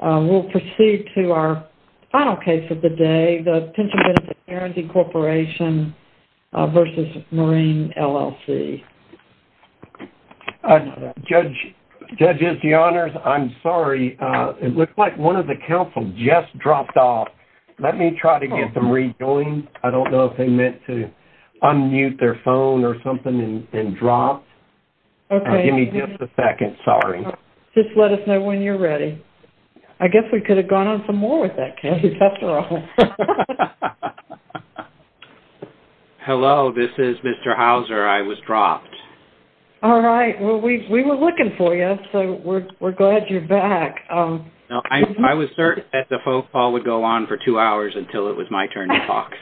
We'll proceed to our final case of the day, the Pension Benefit Guaranty Corporation v. Marine LLC. Judges, your honors, I'm sorry. It looks like one of the counsel just dropped off. Let me try to get them rejoined. I don't know if they meant to unmute their phone or something and drop. Give me just a second. Sorry. Just let us know when you're ready. I guess we could have gone on some more with that case, after all. Hello. This is Mr. Houser. I was dropped. All right. Well, we were looking for you, so we're glad you're back. I was certain that the phone call would go on for two hours until it was my turn to talk.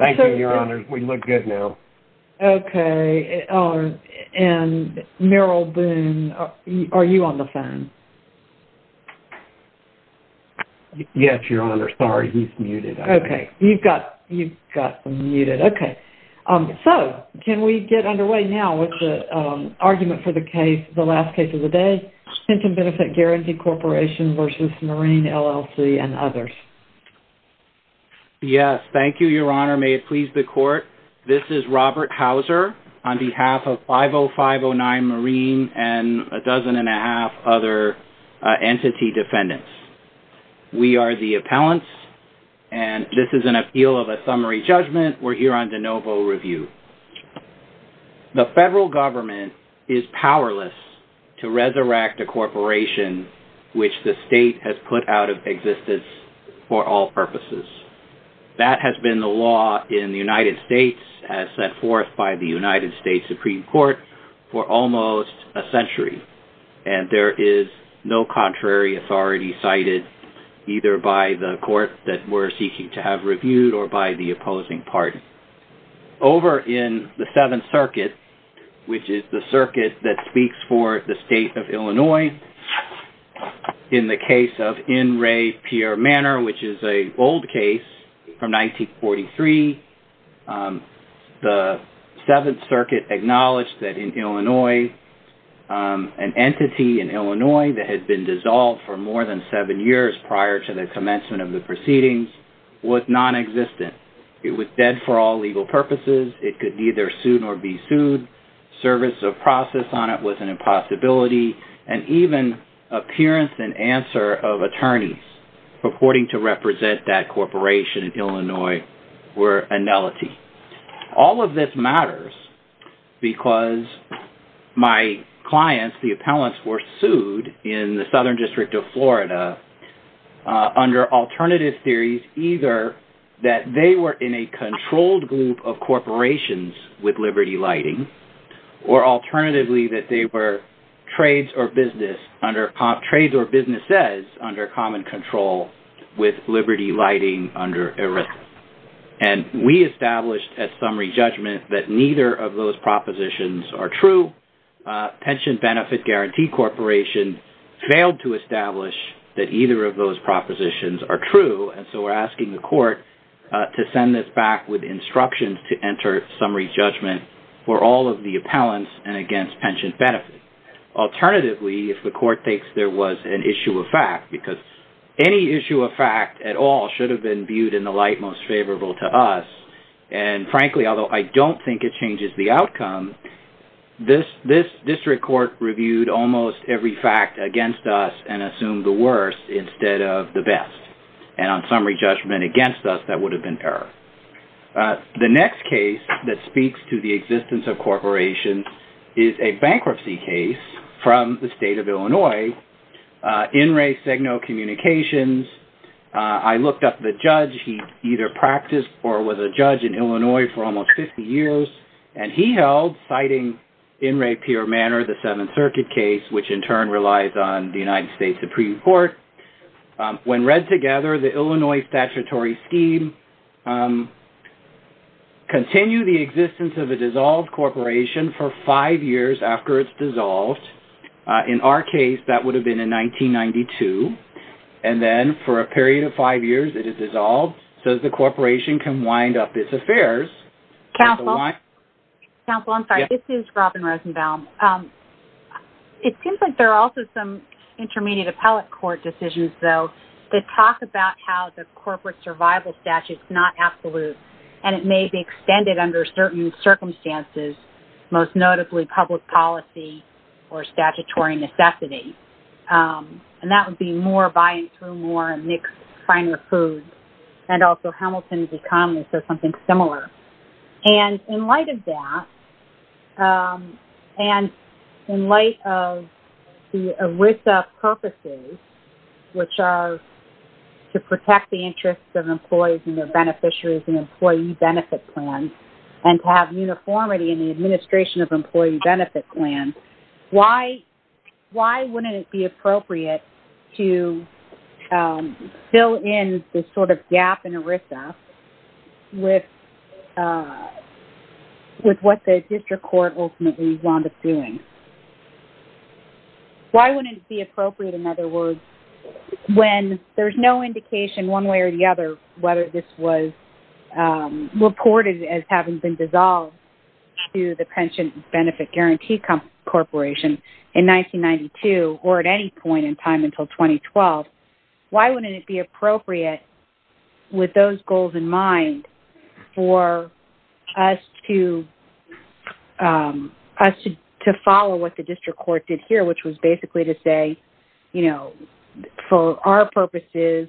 Thank you, your honors. We look good now. Okay. And Merrill Boone, are you on the phone? Yes, your honors. Sorry. He's muted. Okay. You've got them muted. Okay. So, can we get underway now with the argument for the case, the last case of the day, Pension Benefit Guaranty Corporation v. Marine LLC and others? Yes. Thank you, your honor. May it please the court. This is Robert Houser on behalf of 50509 Marine and a dozen and a half other entity defendants. We are the appellants, and this is an appeal of a summary judgment. We're here on de novo review. The federal government is powerless to resurrect a corporation which the state has put out of existence for all purposes. That has been the law in the United States as set forth by the United States Supreme Court for almost a century, and there is no contrary authority cited either by the court that we're seeking to have reviewed or by the opposing party. Over in the Seventh Circuit, which is the circuit that speaks for the state of Illinois, in the case of In Re Pier Manor, which is an old case from 1943, the Seventh Circuit acknowledged that in Illinois, an entity in Illinois that had been dissolved for more than seven years prior to the commencement of the proceedings was non-existent. It was dead for all legal purposes. It could neither sue nor be sued. Service of process on it was an impossibility, and even appearance and answer of attorneys purporting to represent that corporation in Illinois were a nullity. All of this matters because my clients, the appellants, were sued in the Southern District of Florida under alternative theories either that they were in a controlled group of corporations with liberty lighting, or alternatively that they were trades or businesses under common control with liberty lighting under a risk. And we established at summary judgment that neither of those propositions are true. Pension Benefit Guarantee Corporation failed to establish that either of those propositions are true, and so we're asking the court to send this back with instructions to enter summary judgment for all of the appellants and against pension benefit. Alternatively, if the court thinks there was an issue of fact, because any issue of fact at all should have been viewed in the light most favorable to us, and frankly, although I don't think it changes the outcome, this district court reviewed almost every fact against us and assumed the worst instead of the best. And on summary judgment against us, that would have been error. The next case that speaks to the existence of corporations is a bankruptcy case from the state of Illinois, In Re Signo Communications. I looked up the judge. He either practiced or was a judge in Illinois for almost 50 years, and he held, citing in rapier manner the Seventh Circuit case, which in turn relies on the United States Supreme Court, when read together the Illinois statutory scheme, continue the existence of a dissolved corporation for five years after it's dissolved. In our case, that would have been in 1992. And then for a period of five years, it is dissolved, so the corporation can wind up its affairs. Counsel? Counsel, I'm sorry. This is Robin Rosenbaum. It seems like there are also some intermediate appellate court decisions, though, that talk about how the corporate survival statute is not absolute, and it may be extended under certain circumstances, most notably public policy or statutory necessity. And that would be more buying through more and mixed finer foods. And also Hamilton's economy says something similar. And in light of that, and in light of the ERISA purposes, which are to protect the interests of employees and their beneficiaries and employee benefit plans, and to have uniformity in the administration of employee benefit plans, why wouldn't it be appropriate to fill in this sort of gap in ERISA with what the district court ultimately wound up doing? Why wouldn't it be appropriate, in other words, when there's no indication one way or the other whether this was reported as having been dissolved to the Pension Benefit Guarantee Corporation in 1992 or at any point in time until 2012, why wouldn't it be appropriate, with those goals in mind, for us to follow what the district court did here, which was basically to say, you know, for our purposes,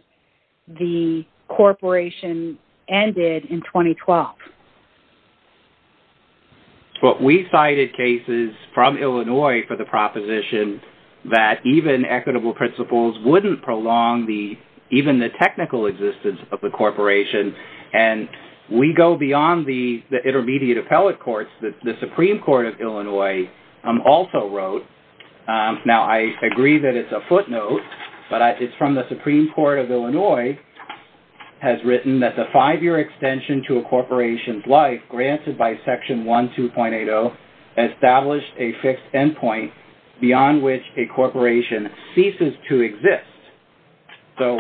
the corporation ended in 2012? Well, we cited cases from Illinois for the proposition that even equitable principles wouldn't prolong even the technical existence of the corporation. And we go beyond the intermediate appellate courts. The Supreme Court of Illinois also wrote, now I agree that it's a footnote, but it's from the Supreme Court of Illinois, has written that the five-year extension to a corporation's life, granted by Section 12.80, established a fixed endpoint beyond which a corporation ceases to exist. So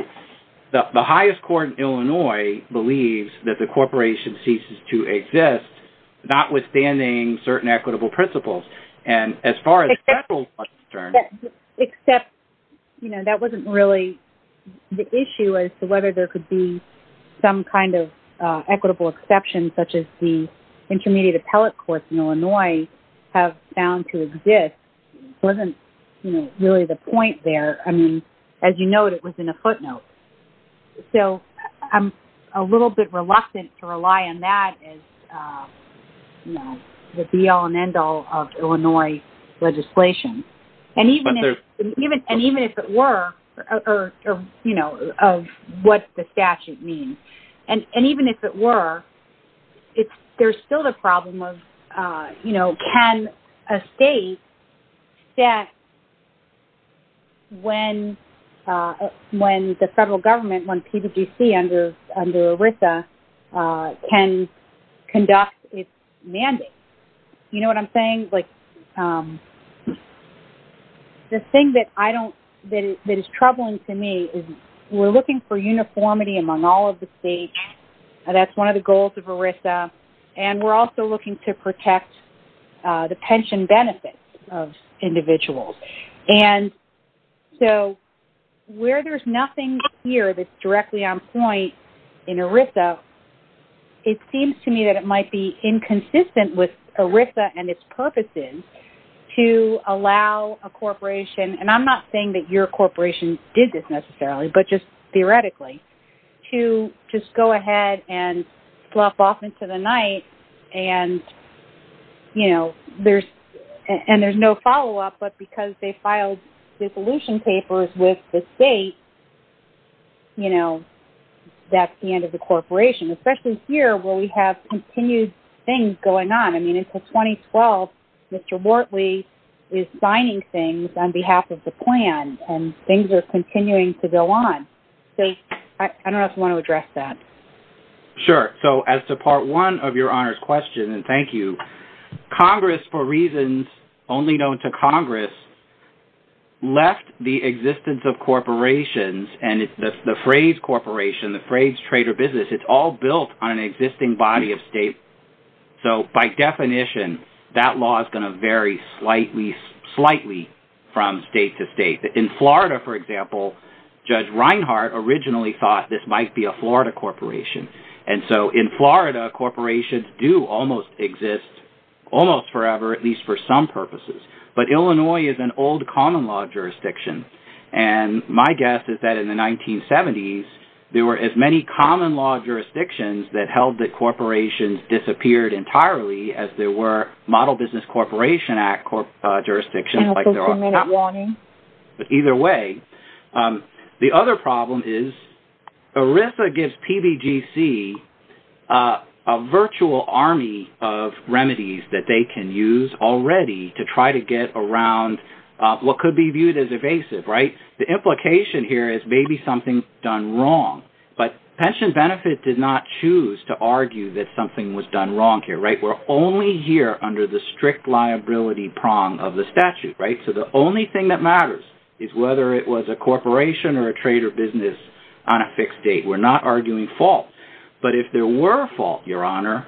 the highest court in Illinois believes that the corporation ceases to exist, notwithstanding certain equitable principles. And as far as federal concerns... Except, you know, that wasn't really the issue as to whether there could be some kind of equitable exception such as the intermediate appellate courts in Illinois have found to exist. It wasn't, you know, really the point there. I mean, as you note, it was in a footnote. So I'm a little bit reluctant to rely on that as, you know, the be-all and end-all of Illinois legislation. And even if it were... Or, you know, of what the statute means. And even if it were, there's still the problem of, you know, can a state set when the federal government, when PWC under ERISA, can conduct its mandate? You know what I'm saying? The thing that is troubling to me is we're looking for uniformity among all of the states. That's one of the goals of ERISA. And we're also looking to protect the pension benefits of individuals. And so where there's nothing here that's directly on point in ERISA, it seems to me that it might be inconsistent with ERISA and its purposes to allow a corporation, and I'm not saying that your corporation did this necessarily, but just theoretically, to just go ahead and flop off into the night and, you know, there's... And there's no follow-up, but because they filed dissolution papers with the state, you know, that's the end of the corporation. Especially here where we have continued things going on. I mean, until 2012, Mr Wortley is signing things on behalf of the plan and things are continuing to go on. I don't know if you want to address that. Sure. So as to part one of Your Honour's question, and thank you, Congress, for reasons only known to Congress, left the existence of corporations and the phrase corporation, the phrase trade or business, it's all built on an existing body of state. So by definition, that law is going to vary slightly from state to state. In Florida, for example, Judge Reinhart originally thought this might be a Florida corporation. And so in Florida, corporations do almost exist almost forever, at least for some purposes. But Illinois is an old common law jurisdiction, and my guess is that in the 1970s, there were as many common law jurisdictions that held that corporations disappeared entirely as there were Model Business Corporation Act jurisdictions. But either way, the other problem is ERISA gives PBGC a virtual army of remedies that they can use already to try to get around what could be viewed as evasive, right? The implication here is maybe something's done wrong. But Pension Benefit did not choose to argue that something was done wrong here, right? We're only here under the strict liability prong of the statute. So the only thing that matters is whether it was a corporation or a trade or business on a fixed date. We're not arguing fault. But if there were a fault, Your Honor,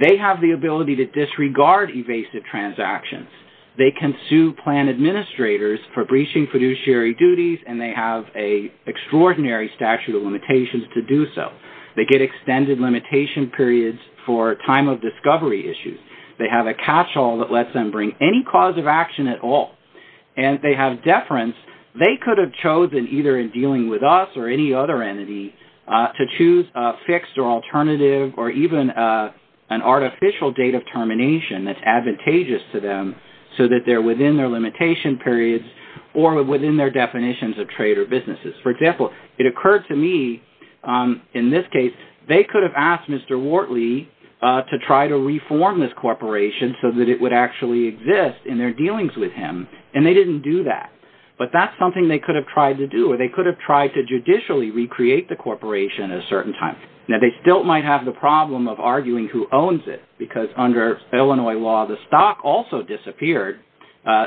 they have the ability to disregard evasive transactions. They can sue plan administrators for breaching fiduciary duties, and they have an extraordinary statute of limitations to do so. They get extended limitation periods for time of discovery issues. They have a cash haul that lets them bring any cause of action at all. And they have deference. They could have chosen, either in dealing with us or any other entity, to choose a fixed or alternative or even an artificial date of termination that's advantageous to them so that they're within their limitation periods or within their definitions of trade or businesses. For example, it occurred to me, in this case, they could have asked Mr. Wortley to try to reform this corporation so that it would actually exist in their dealings with him, and they didn't do that. But that's something they could have tried to do, or they could have tried to judicially recreate the corporation at a certain time. Now, they still might have the problem of arguing who owns it because under Illinois law, the stock also disappeared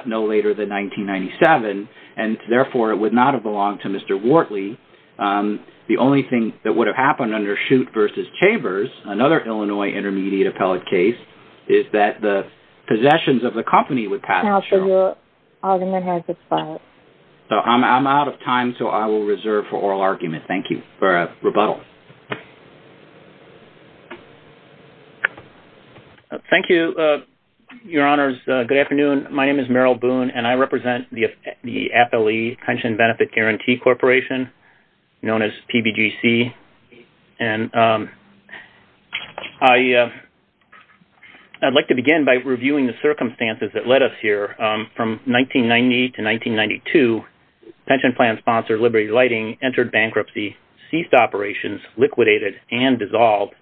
no later than 1997, and therefore it would not have belonged to Mr. Wortley. The only thing that would have happened under Shute v. Chambers, another Illinois intermediate appellate case, is that the possessions of the company would pass the show. I'm out of time, so I will reserve for oral argument. Thank you for a rebuttal. Thank you, Your Honors. Good afternoon. My name is Merrill Boone, and I represent the Appellee Pension Benefit Guarantee Corporation, known as PBGC. I'd like to begin by reviewing the circumstances that led us here. From 1990 to 1992, pension plan sponsor Liberty Lighting entered bankruptcy, ceased operations, liquidated, and dissolved.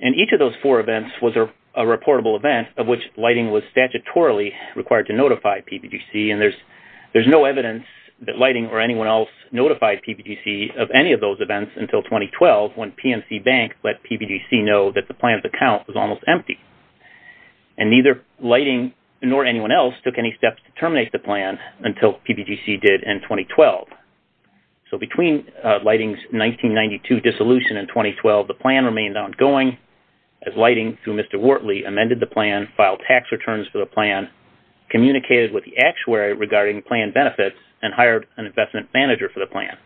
And each of those four events was a reportable event of which Lighting was statutorily required to notify PBGC, and there's no evidence that Lighting or anyone else notified PBGC of any of those events until 2012, when PNC Bank let PBGC know that the plan's account was almost empty. And neither Lighting nor anyone else took any steps to terminate the plan until PBGC did in 2012. So between Lighting's 1992 dissolution and 2012, the plan remained ongoing as Lighting, through Mr. Wortley, amended the plan, filed tax returns for the plan, communicated with the actuary regarding plan benefits, and hired an investment manager for the plan.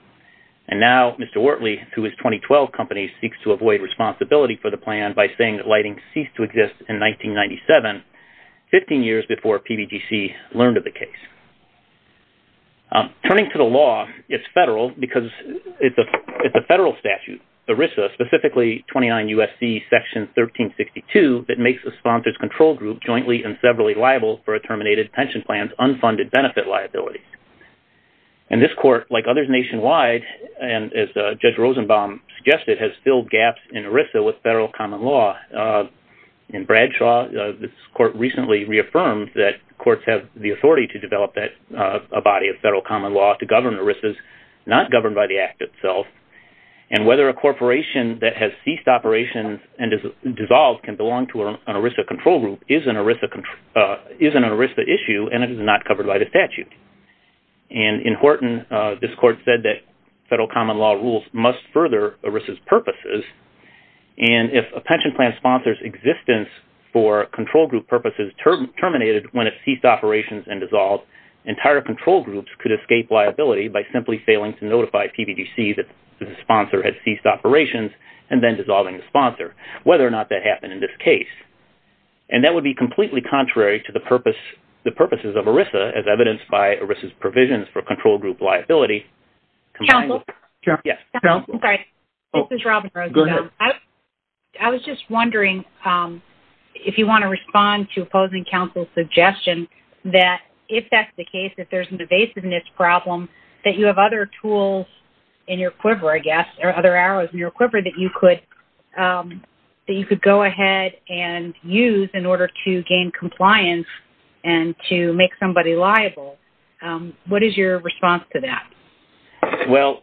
And now Mr. Wortley, through his 2012 company, seeks to avoid responsibility for the plan by saying that Lighting ceased to exist in 1997, 15 years before PBGC learned of the case. Turning to the law, it's federal because it's a federal statute. It's the ERISA, specifically 29 U.S.C. section 1362, that makes a sponsor's control group jointly and severally liable for a terminated pension plan's unfunded benefit liability. And this court, like others nationwide, and as Judge Rosenbaum suggested, has filled gaps in ERISA with federal common law. In Bradshaw, this court recently reaffirmed that courts have the authority to develop a body of federal common law to govern ERISAs not governed by the act itself, and whether a corporation that has ceased operations and is dissolved can belong to an ERISA control group is an ERISA issue and it is not covered by the statute. And in Horton, this court said that federal common law rules must further ERISA's purposes, and if a pension plan sponsor's existence for control group purposes terminated when it ceased operations and dissolved, entire control groups could escape liability by simply failing to notify PBGC that the sponsor had ceased operations and then dissolving the sponsor, whether or not that happened in this case. And that would be completely contrary to the purposes of ERISA as evidenced by ERISA's provisions for control group liability. Counsel? Yes. I'm sorry. This is Robin Rosenbaum. Go ahead. I was just wondering if you want to respond to opposing counsel's suggestion that if that's the case, if there's an evasiveness problem, that you have other tools in your quiver, I guess, or other arrows in your quiver, that you could go ahead and use in order to gain compliance and to make somebody liable. What is your response to that? Well,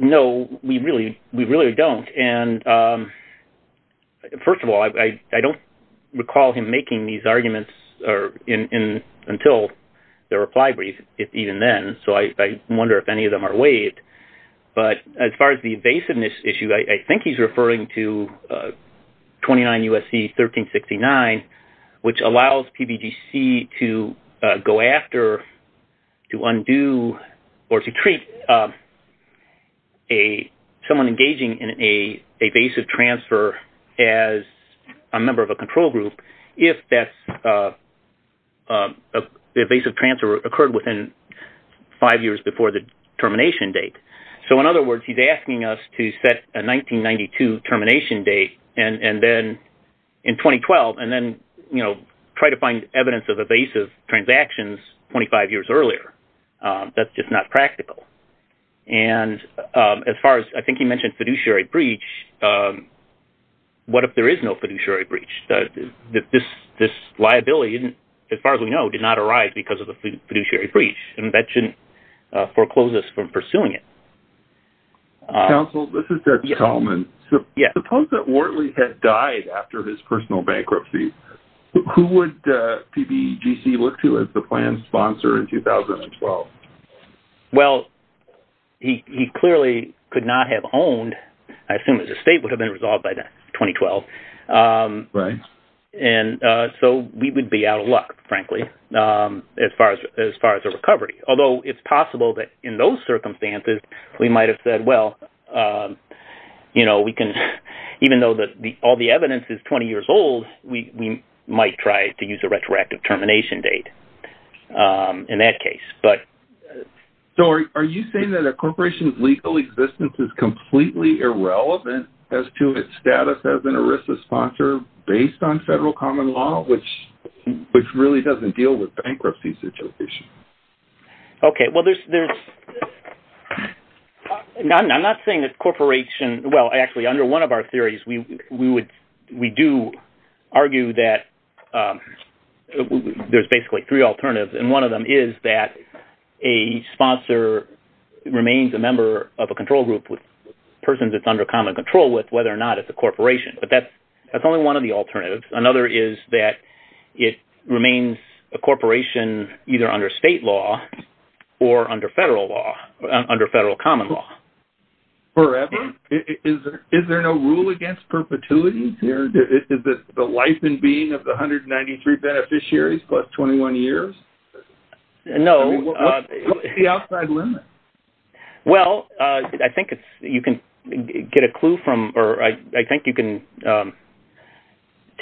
no, we really don't. And first of all, I don't recall him making these arguments until the reply brief, even then. So I wonder if any of them are waived. But as far as the evasiveness issue, I think he's referring to 29 U.S.C. 1369, which allows PBGC to go after, to undo, or to treat someone engaging in an evasive transfer as a member of a control group if that evasive transfer occurred within five years before the termination date. So in other words, he's asking us to set a 1992 termination date in 2012 and then try to find evidence of evasive transactions 25 years earlier. That's just not practical. And as far as, I think he mentioned fiduciary breach, what if there is no fiduciary breach? This liability, as far as we know, did not arise because of the fiduciary breach, and that shouldn't foreclose us from pursuing it. Counsel, this is Ted Chalman. Suppose that Wortley had died after his personal bankruptcy. Who would PBGC look to as the planned sponsor in 2012? Well, he clearly could not have owned, I assume his estate would have been resolved by 2012. Right. And so we would be out of luck, frankly, as far as a recovery. Although it's possible that in those circumstances we might have said, well, you know, we can, even though all the evidence is 20 years old, we might try to use a retroactive termination date in that case. So are you saying that a corporation's legal existence is completely irrelevant as to its status as an ERISA sponsor based on federal common law, which really doesn't deal with bankruptcy situations? Okay, well, there's... I'm not saying that corporations... Well, actually, under one of our theories, we do argue that there's basically three alternatives, and one of them is that a sponsor remains a member of a control group with persons it's under common control with, whether or not it's a corporation. But that's only one of the alternatives. Another is that it remains a corporation either under state law or under federal law, under federal common law. Forever? Is there no rule against perpetuity? Is it the life and being of the 193 beneficiaries plus 21 years? No. What's the outside limit? Well, I think you can get a clue from, or I think you can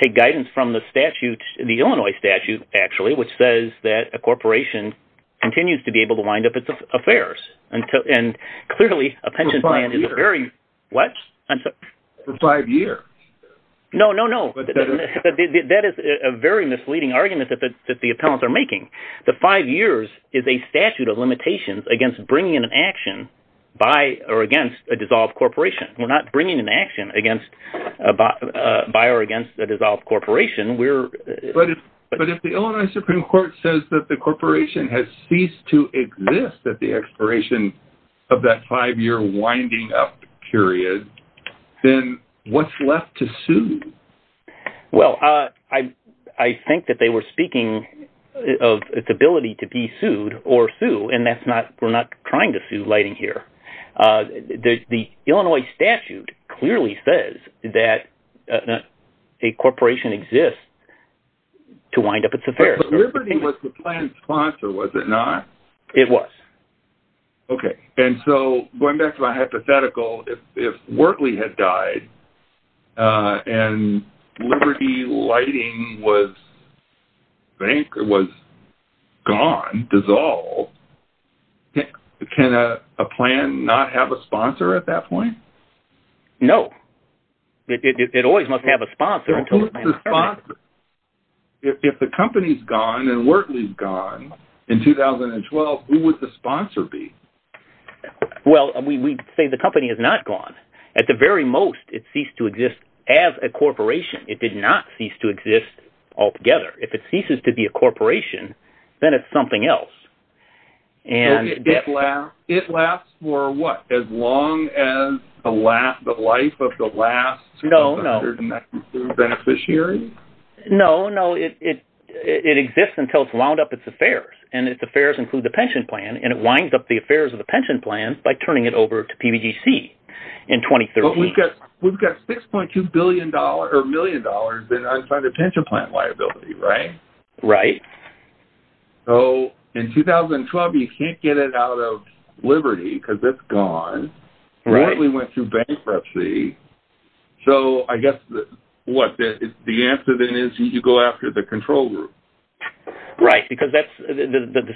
take guidance from the statute, the Illinois statute, actually, which says that a corporation continues to be able to wind up its affairs. And clearly, a pension plan is a very... For five years. What? For five years. No, no, no. That is a very misleading argument that the appellants are making. The five years is a statute of limitations against bringing an action by or against a dissolved corporation. We're not bringing an action by or against a dissolved corporation. But if the Illinois Supreme Court says that the corporation has ceased to exist at the expiration of that five-year winding up period, then what's left to sue? Well, I think that they were speaking of its ability to be sued or sue, and we're not trying to sue Lighting here. The Illinois statute clearly says that a corporation exists to wind up its affairs. But Liberty was the plan's sponsor, was it not? It was. Okay. And so, going back to my hypothetical, if Wortley had died and Liberty Lighting was gone, dissolved, can a plan not have a sponsor at that point? No. It always must have a sponsor. Who is the sponsor? If the company's gone and Wortley's gone in 2012, who would the sponsor be? Well, we'd say the company is not gone. At the very most, it ceased to exist as a corporation. It did not cease to exist altogether. If it ceases to be a corporation, then it's something else. It lasts for what? As long as the life of the last 100 beneficiary? No, no. It exists until it's wound up its affairs, and its affairs include the pension plan, and it winds up the affairs of the pension plan by turning it over to PBGC in 2013. But we've got $6.2 million in unfunded pension plan liability, right? Right. So in 2012, you can't get it out of Liberty because it's gone. Right. Wortley went through bankruptcy. So I guess what? The answer then is you go after the control group. Right, because the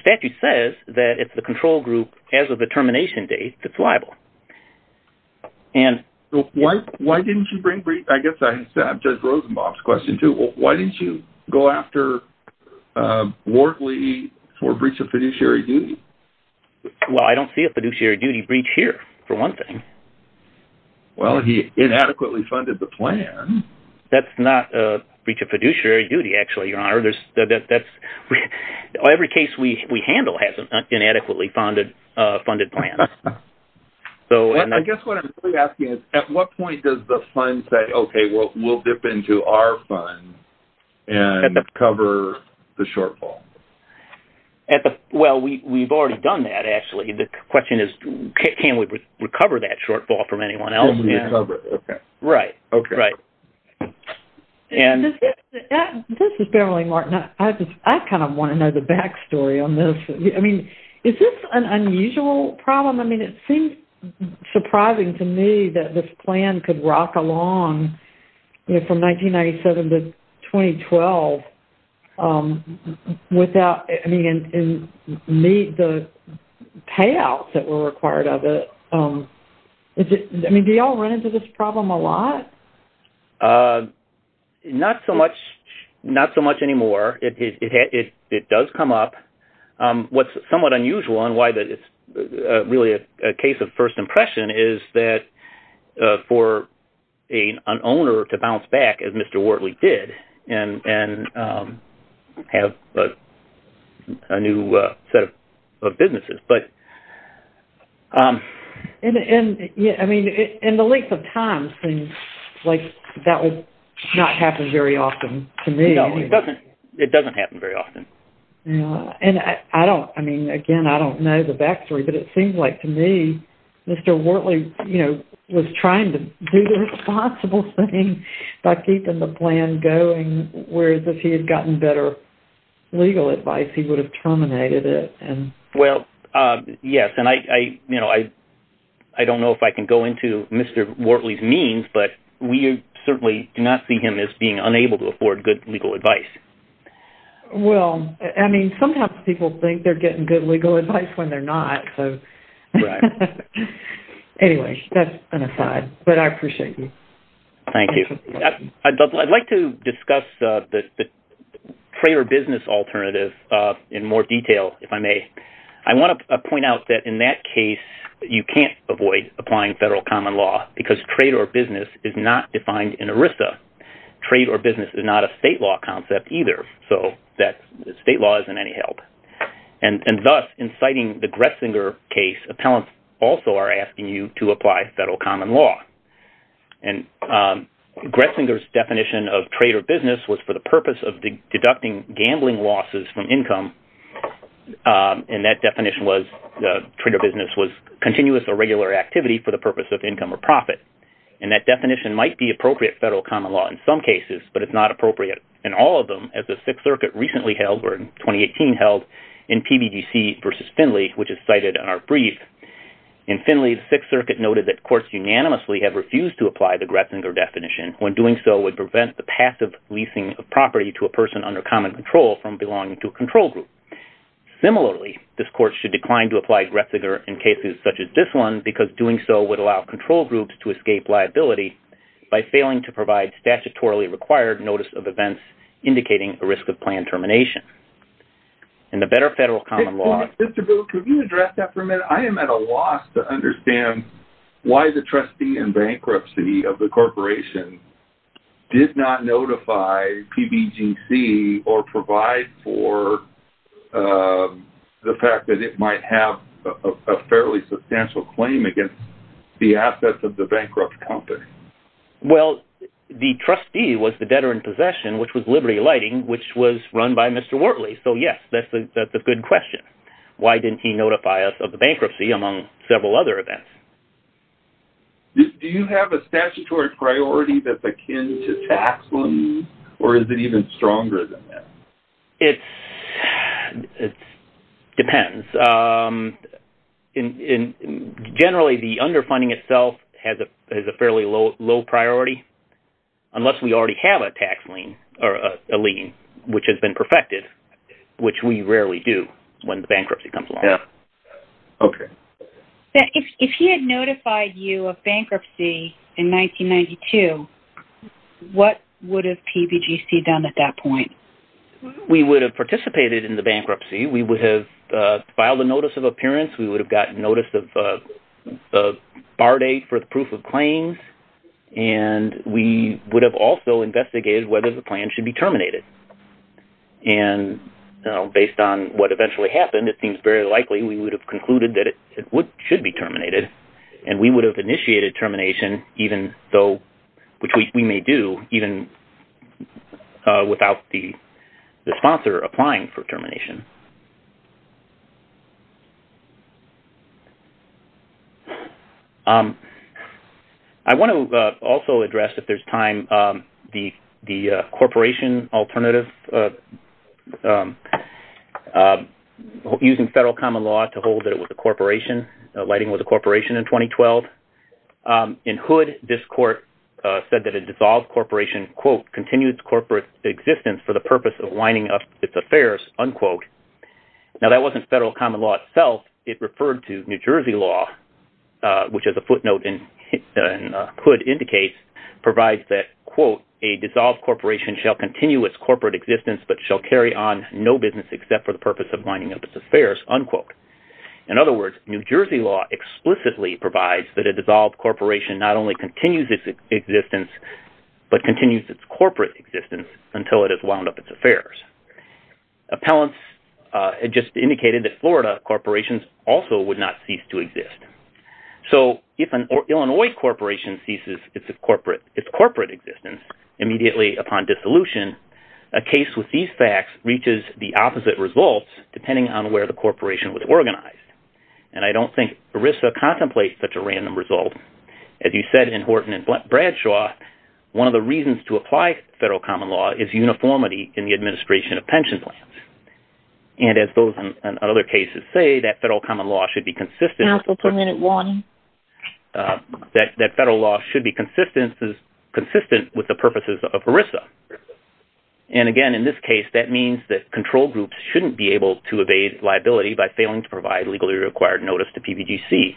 statute says that it's the control group as of the termination date that's liable. Why didn't you bring breach? I guess I have Judge Rosenbaum's question too. Why didn't you go after Wortley for a breach of fiduciary duty? Well, I don't see a fiduciary duty breach here, for one thing. Well, he inadequately funded the plan. That's not a breach of fiduciary duty, actually, Your Honor. Every case we handle has an inadequately funded plan. I guess what I'm really asking is at what point does the fund say, okay, we'll dip into our fund and cover the shortfall? Well, we've already done that, actually. The question is can we recover that shortfall from anyone else? Can we recover it? Okay. Right. Okay. Right. This is Beverly Martin. I kind of want to know the back story on this. I mean, is this an unusual problem? I mean, it seems surprising to me that this plan could rock along from 1997 to 2012 without the payouts that were required of it. I mean, do you all run into this problem a lot? Not so much anymore. It does come up. What's somewhat unusual and why it's really a case of first impression is that for an owner to bounce back, as Mr. Wortley did, and have a new set of businesses. I mean, in the length of time, that would not happen very often to me. No, it doesn't happen very often. I mean, again, I don't know the back story, but it seems like to me Mr. Wortley was trying to do the responsible thing by keeping the plan going, whereas if he had gotten better legal advice, he would have terminated it. Well, yes. And I don't know if I can go into Mr. Wortley's means, but we certainly do not see him as being unable to afford good legal advice. Well, I mean, sometimes people think they're getting good legal advice when they're not. Right. Anyway, that's an aside, but I appreciate you. Thank you. I'd like to discuss the trade or business alternative in more detail, if I may. I want to point out that in that case, you can't avoid applying federal common law because trade or business is not defined in ERISA. Trade or business is not a state law concept either, so state law isn't any help. And thus, in citing the Gretzinger case, appellants also are asking you to apply federal common law. And Gretzinger's definition of trade or business was for the purpose of deducting gambling losses from income, and that definition was trade or business was continuous or regular activity for the purpose of income or profit. And that definition might be appropriate federal common law in some cases, but it's not appropriate in all of them. As the Sixth Circuit recently held, or in 2018 held, in PBDC v. Finley, which is cited in our brief, in Finley the Sixth Circuit noted that courts unanimously have refused to apply the Gretzinger definition when doing so would prevent the passive leasing of property to a person under common control from belonging to a control group. Similarly, this court should decline to apply Gretzinger in cases such as this one because doing so would allow control groups to escape liability by failing to provide statutorily required notice of events indicating a risk of planned termination. And the better federal common law… Mr. Booth, could you address that for a minute? I am at a loss to understand why the trustee in bankruptcy of the corporation did not notify PBGC or provide for the fact that it might have a fairly substantial claim against the assets of the bankrupt company. Well, the trustee was the debtor in possession, which was Liberty Lighting, which was run by Mr. Wortley. So, yes, that's a good question. Why didn't he notify us of the bankruptcy, among several other events? Do you have a statutory priority that's akin to tax loans, or is it even stronger than that? It depends. Generally, the underfunding itself has a fairly low priority, unless we already have a tax lien, or a lien, which has been perfected, which we rarely do when bankruptcy comes along. Okay. If he had notified you of bankruptcy in 1992, what would have PBGC done at that point? We would have participated in the bankruptcy. We would have filed a notice of appearance. We would have gotten notice of a bar date for the proof of claims. And we would have also investigated whether the plan should be terminated. And based on what eventually happened, it seems very likely we would have concluded that it should be terminated. And we would have initiated termination, which we may do, even without the sponsor applying for termination. I want to also address, if there's time, the corporation alternative, using federal common law to hold that it was a corporation. Lighting was a corporation in 2012. In Hood, this court said that a dissolved corporation, quote, continues corporate existence for the purpose of winding up its affairs, unquote. Now, that wasn't federal common law itself. It referred to New Jersey law, which, as a footnote in Hood indicates, provides that, quote, a dissolved corporation shall continue its corporate existence, but shall carry on no business except for the purpose of winding up its affairs, unquote. In other words, New Jersey law explicitly provides that a dissolved corporation not only continues its existence, but continues its corporate existence until it has wound up its affairs. Appellants just indicated that Florida corporations also would not cease to exist. So if an Illinois corporation ceases its corporate existence immediately upon dissolution, a case with these facts reaches the opposite results, depending on where the corporation was organized. And I don't think ERISA contemplates such a random result. As you said in Horton and Bradshaw, one of the reasons to apply federal common law is uniformity in the administration of pension plans. And as those in other cases say, that federal common law should be consistent. That federal law should be consistent with the purposes of ERISA. And again, in this case, that means that control groups shouldn't be able to evade liability by failing to provide legally required notice to PBGC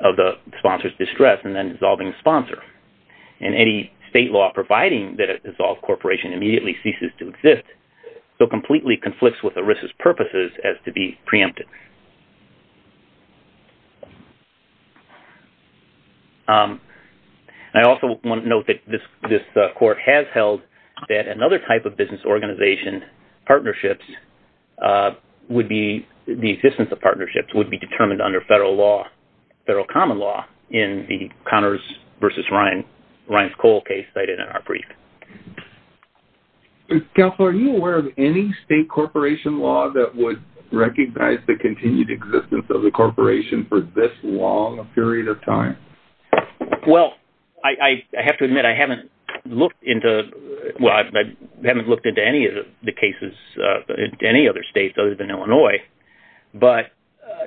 of the sponsor's distress and then dissolving the sponsor. And any state law providing that a dissolved corporation immediately ceases to exist, so completely conflicts with ERISA's purposes as to be preempted. And I also want to note that this court has held that another type of business organization, partnerships, would be, the existence of partnerships, would be determined under federal law, federal common law, in the Connors v. Ryan, Ryan's Cole case cited in our brief. Counselor, are you aware of any state corporation law that would recognize the continued existence of the corporation for this long a period of time? Well, I have to admit, I haven't looked into, well, I haven't looked into any of the cases in any other state other than Illinois. But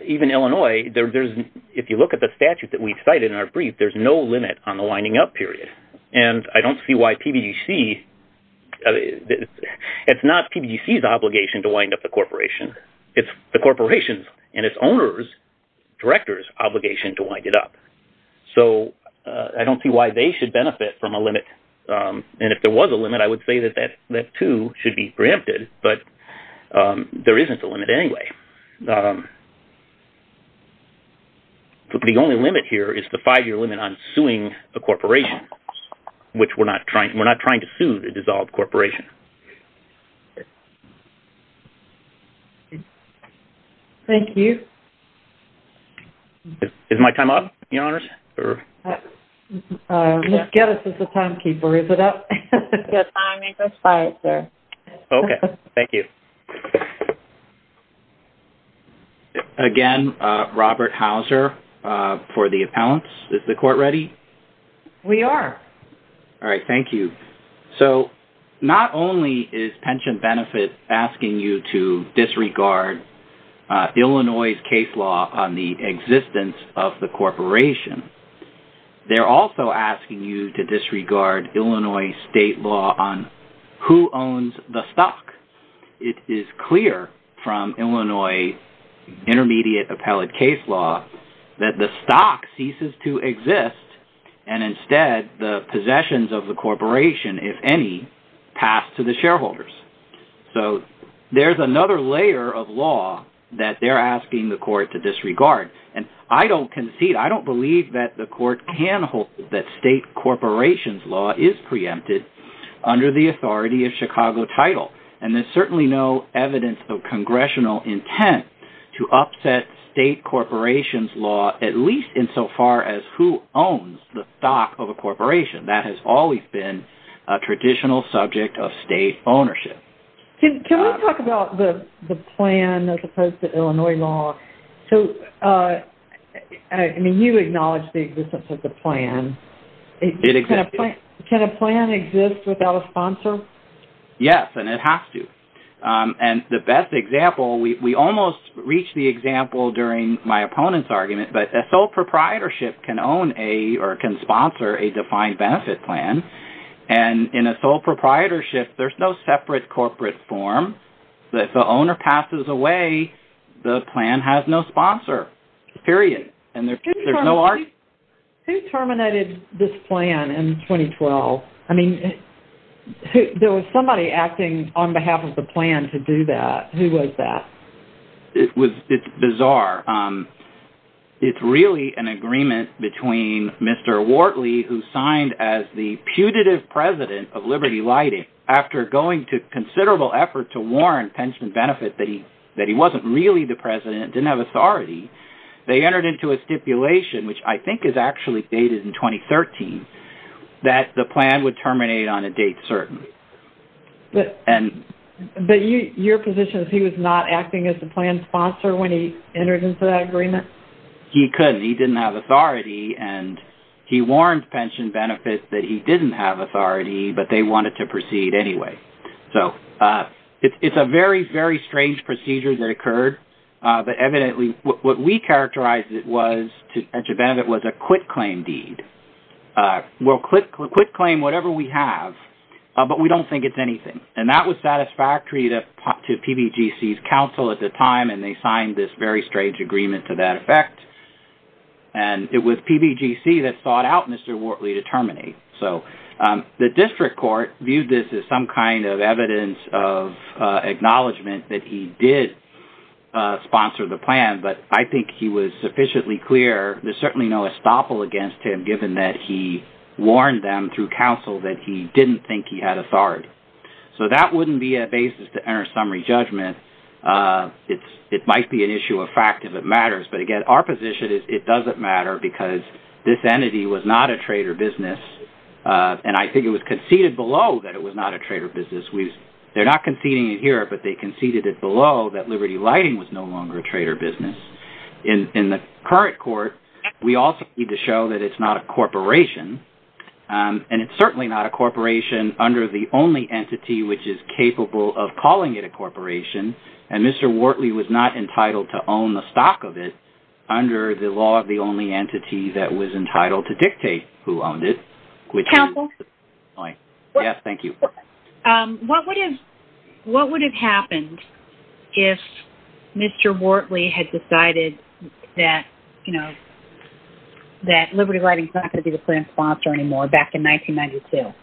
even Illinois, if you look at the statute that we've cited in our brief, there's no limit on the lining up period. And I don't see why PBGC – it's not PBGC's obligation to wind up the corporation. It's the corporation's and its owner's, director's obligation to wind it up. So I don't see why they should benefit from a limit. And if there was a limit, I would say that that too should be preempted, but there isn't a limit anyway. The only limit here is the five-year limit on suing a corporation, which we're not trying to sue a dissolved corporation. Thank you. Is my time up, Your Honors? Ms. Geddes is the timekeeper. Is it up? Your time is aside, sir. Okay. Thank you. Again, Robert Hauser for the appellants. Is the court ready? We are. All right. Thank you. So not only is pension benefit asking you to disregard Illinois' case law on the existence of the corporation, they're also asking you to disregard Illinois' state law on who owns the stock. It is clear from Illinois' intermediate appellate case law that the stock ceases to exist, and instead the possessions of the corporation, if any, pass to the shareholders. So there's another layer of law that they're asking the court to disregard. And I don't concede, I don't believe that the court can hold that state corporation's law is preempted under the authority of Chicago title. And there's certainly no evidence of congressional intent to upset state corporation's law, at least insofar as who owns the stock of a corporation. That has always been a traditional subject of state ownership. Can we talk about the plan as opposed to Illinois' law? So, I mean, you acknowledge the existence of the plan. It exists. Can a plan exist without a sponsor? Yes, and it has to. And the best example, we almost reached the example during my opponent's argument, but a sole proprietorship can own a or can sponsor a defined benefit plan. And in a sole proprietorship, there's no separate corporate form. If the owner passes away, the plan has no sponsor, period. Who terminated this plan in 2012? I mean, there was somebody acting on behalf of the plan to do that. Who was that? It's bizarre. It's really an agreement between Mr. Wortley, who signed as the putative president of Liberty Lighting, after going to considerable effort to warn Pension Benefit that he wasn't really the president, didn't have authority. They entered into a stipulation, which I think is actually dated in 2013, that the plan would terminate on a date certain. But your position is he was not acting as the plan's sponsor when he entered into that agreement? He couldn't. He didn't have authority, and he warned Pension Benefit that he didn't have authority, but they wanted to proceed anyway. So it's a very, very strange procedure that occurred. But evidently, what we characterized it was, to Pension Benefit, was a quit-claim deed. We'll quit-claim whatever we have, but we don't think it's anything. And that was satisfactory to PBGC's counsel at the time, and they signed this very strange agreement to that effect. And it was PBGC that sought out Mr. Wortley to terminate. The district court viewed this as some kind of evidence of acknowledgement that he did sponsor the plan, but I think he was sufficiently clear there's certainly no estoppel against him, given that he warned them through counsel that he didn't think he had authority. So that wouldn't be a basis to enter a summary judgment. It might be an issue of fact if it matters. But again, our position is it doesn't matter because this entity was not a trade or business, and I think it was conceded below that it was not a trade or business. They're not conceding it here, but they conceded it below that Liberty Lighting was no longer a trade or business. In the current court, we also need to show that it's not a corporation, and it's certainly not a corporation under the only entity which is capable of calling it a corporation, and Mr. Wortley was not entitled to own the stock of it under the law of the only entity that was entitled to dictate who owned it. Counsel? Yes, thank you. What would have happened if Mr. Wortley had decided that, you know, that Liberty Lighting is not going to be the plan sponsor anymore back in 1992?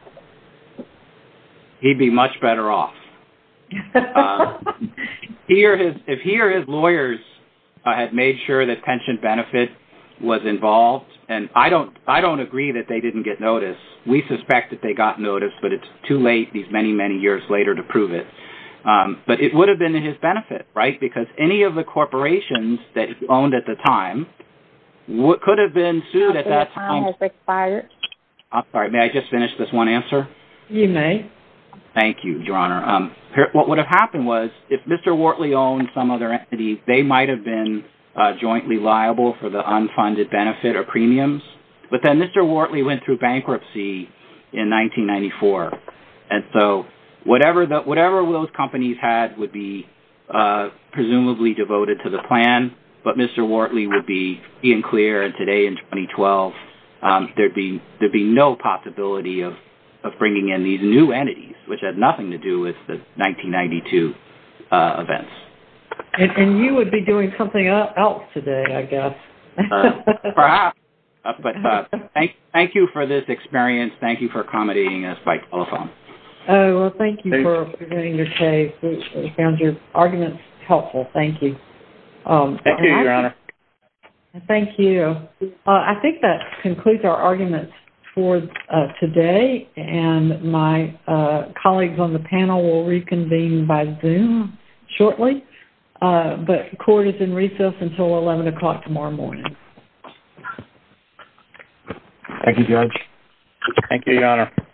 He'd be much better off. If he or his lawyers had made sure that pension benefit was involved, and I don't agree that they didn't get notice. We suspect that they got notice, but it's too late these many, many years later to prove it. But it would have been in his benefit, right, because any of the corporations that he owned at the time could have been sued at that time. May I just finish this one answer? You may. Thank you, Your Honor. What would have happened was if Mr. Wortley owned some other entity, they might have been jointly liable for the unfunded benefit or premiums, but then Mr. Wortley went through bankruptcy in 1994, and so whatever those companies had would be presumably devoted to the plan, but Mr. Wortley would be being clear, and today in 2012, there'd be no possibility of bringing in these new entities, which had nothing to do with the 1992 events. And you would be doing something else today, I guess. Perhaps, but thank you for this experience. Thank you for accommodating us by telephone. Oh, well, thank you for doing your case. I found your arguments helpful. Thank you. Thank you, Your Honor. Thank you. I think that concludes our arguments for today, and my colleagues on the panel will reconvene by Zoom shortly, but court is in recess until 11 o'clock tomorrow morning. Thank you, Judge. Thank you, Your Honor.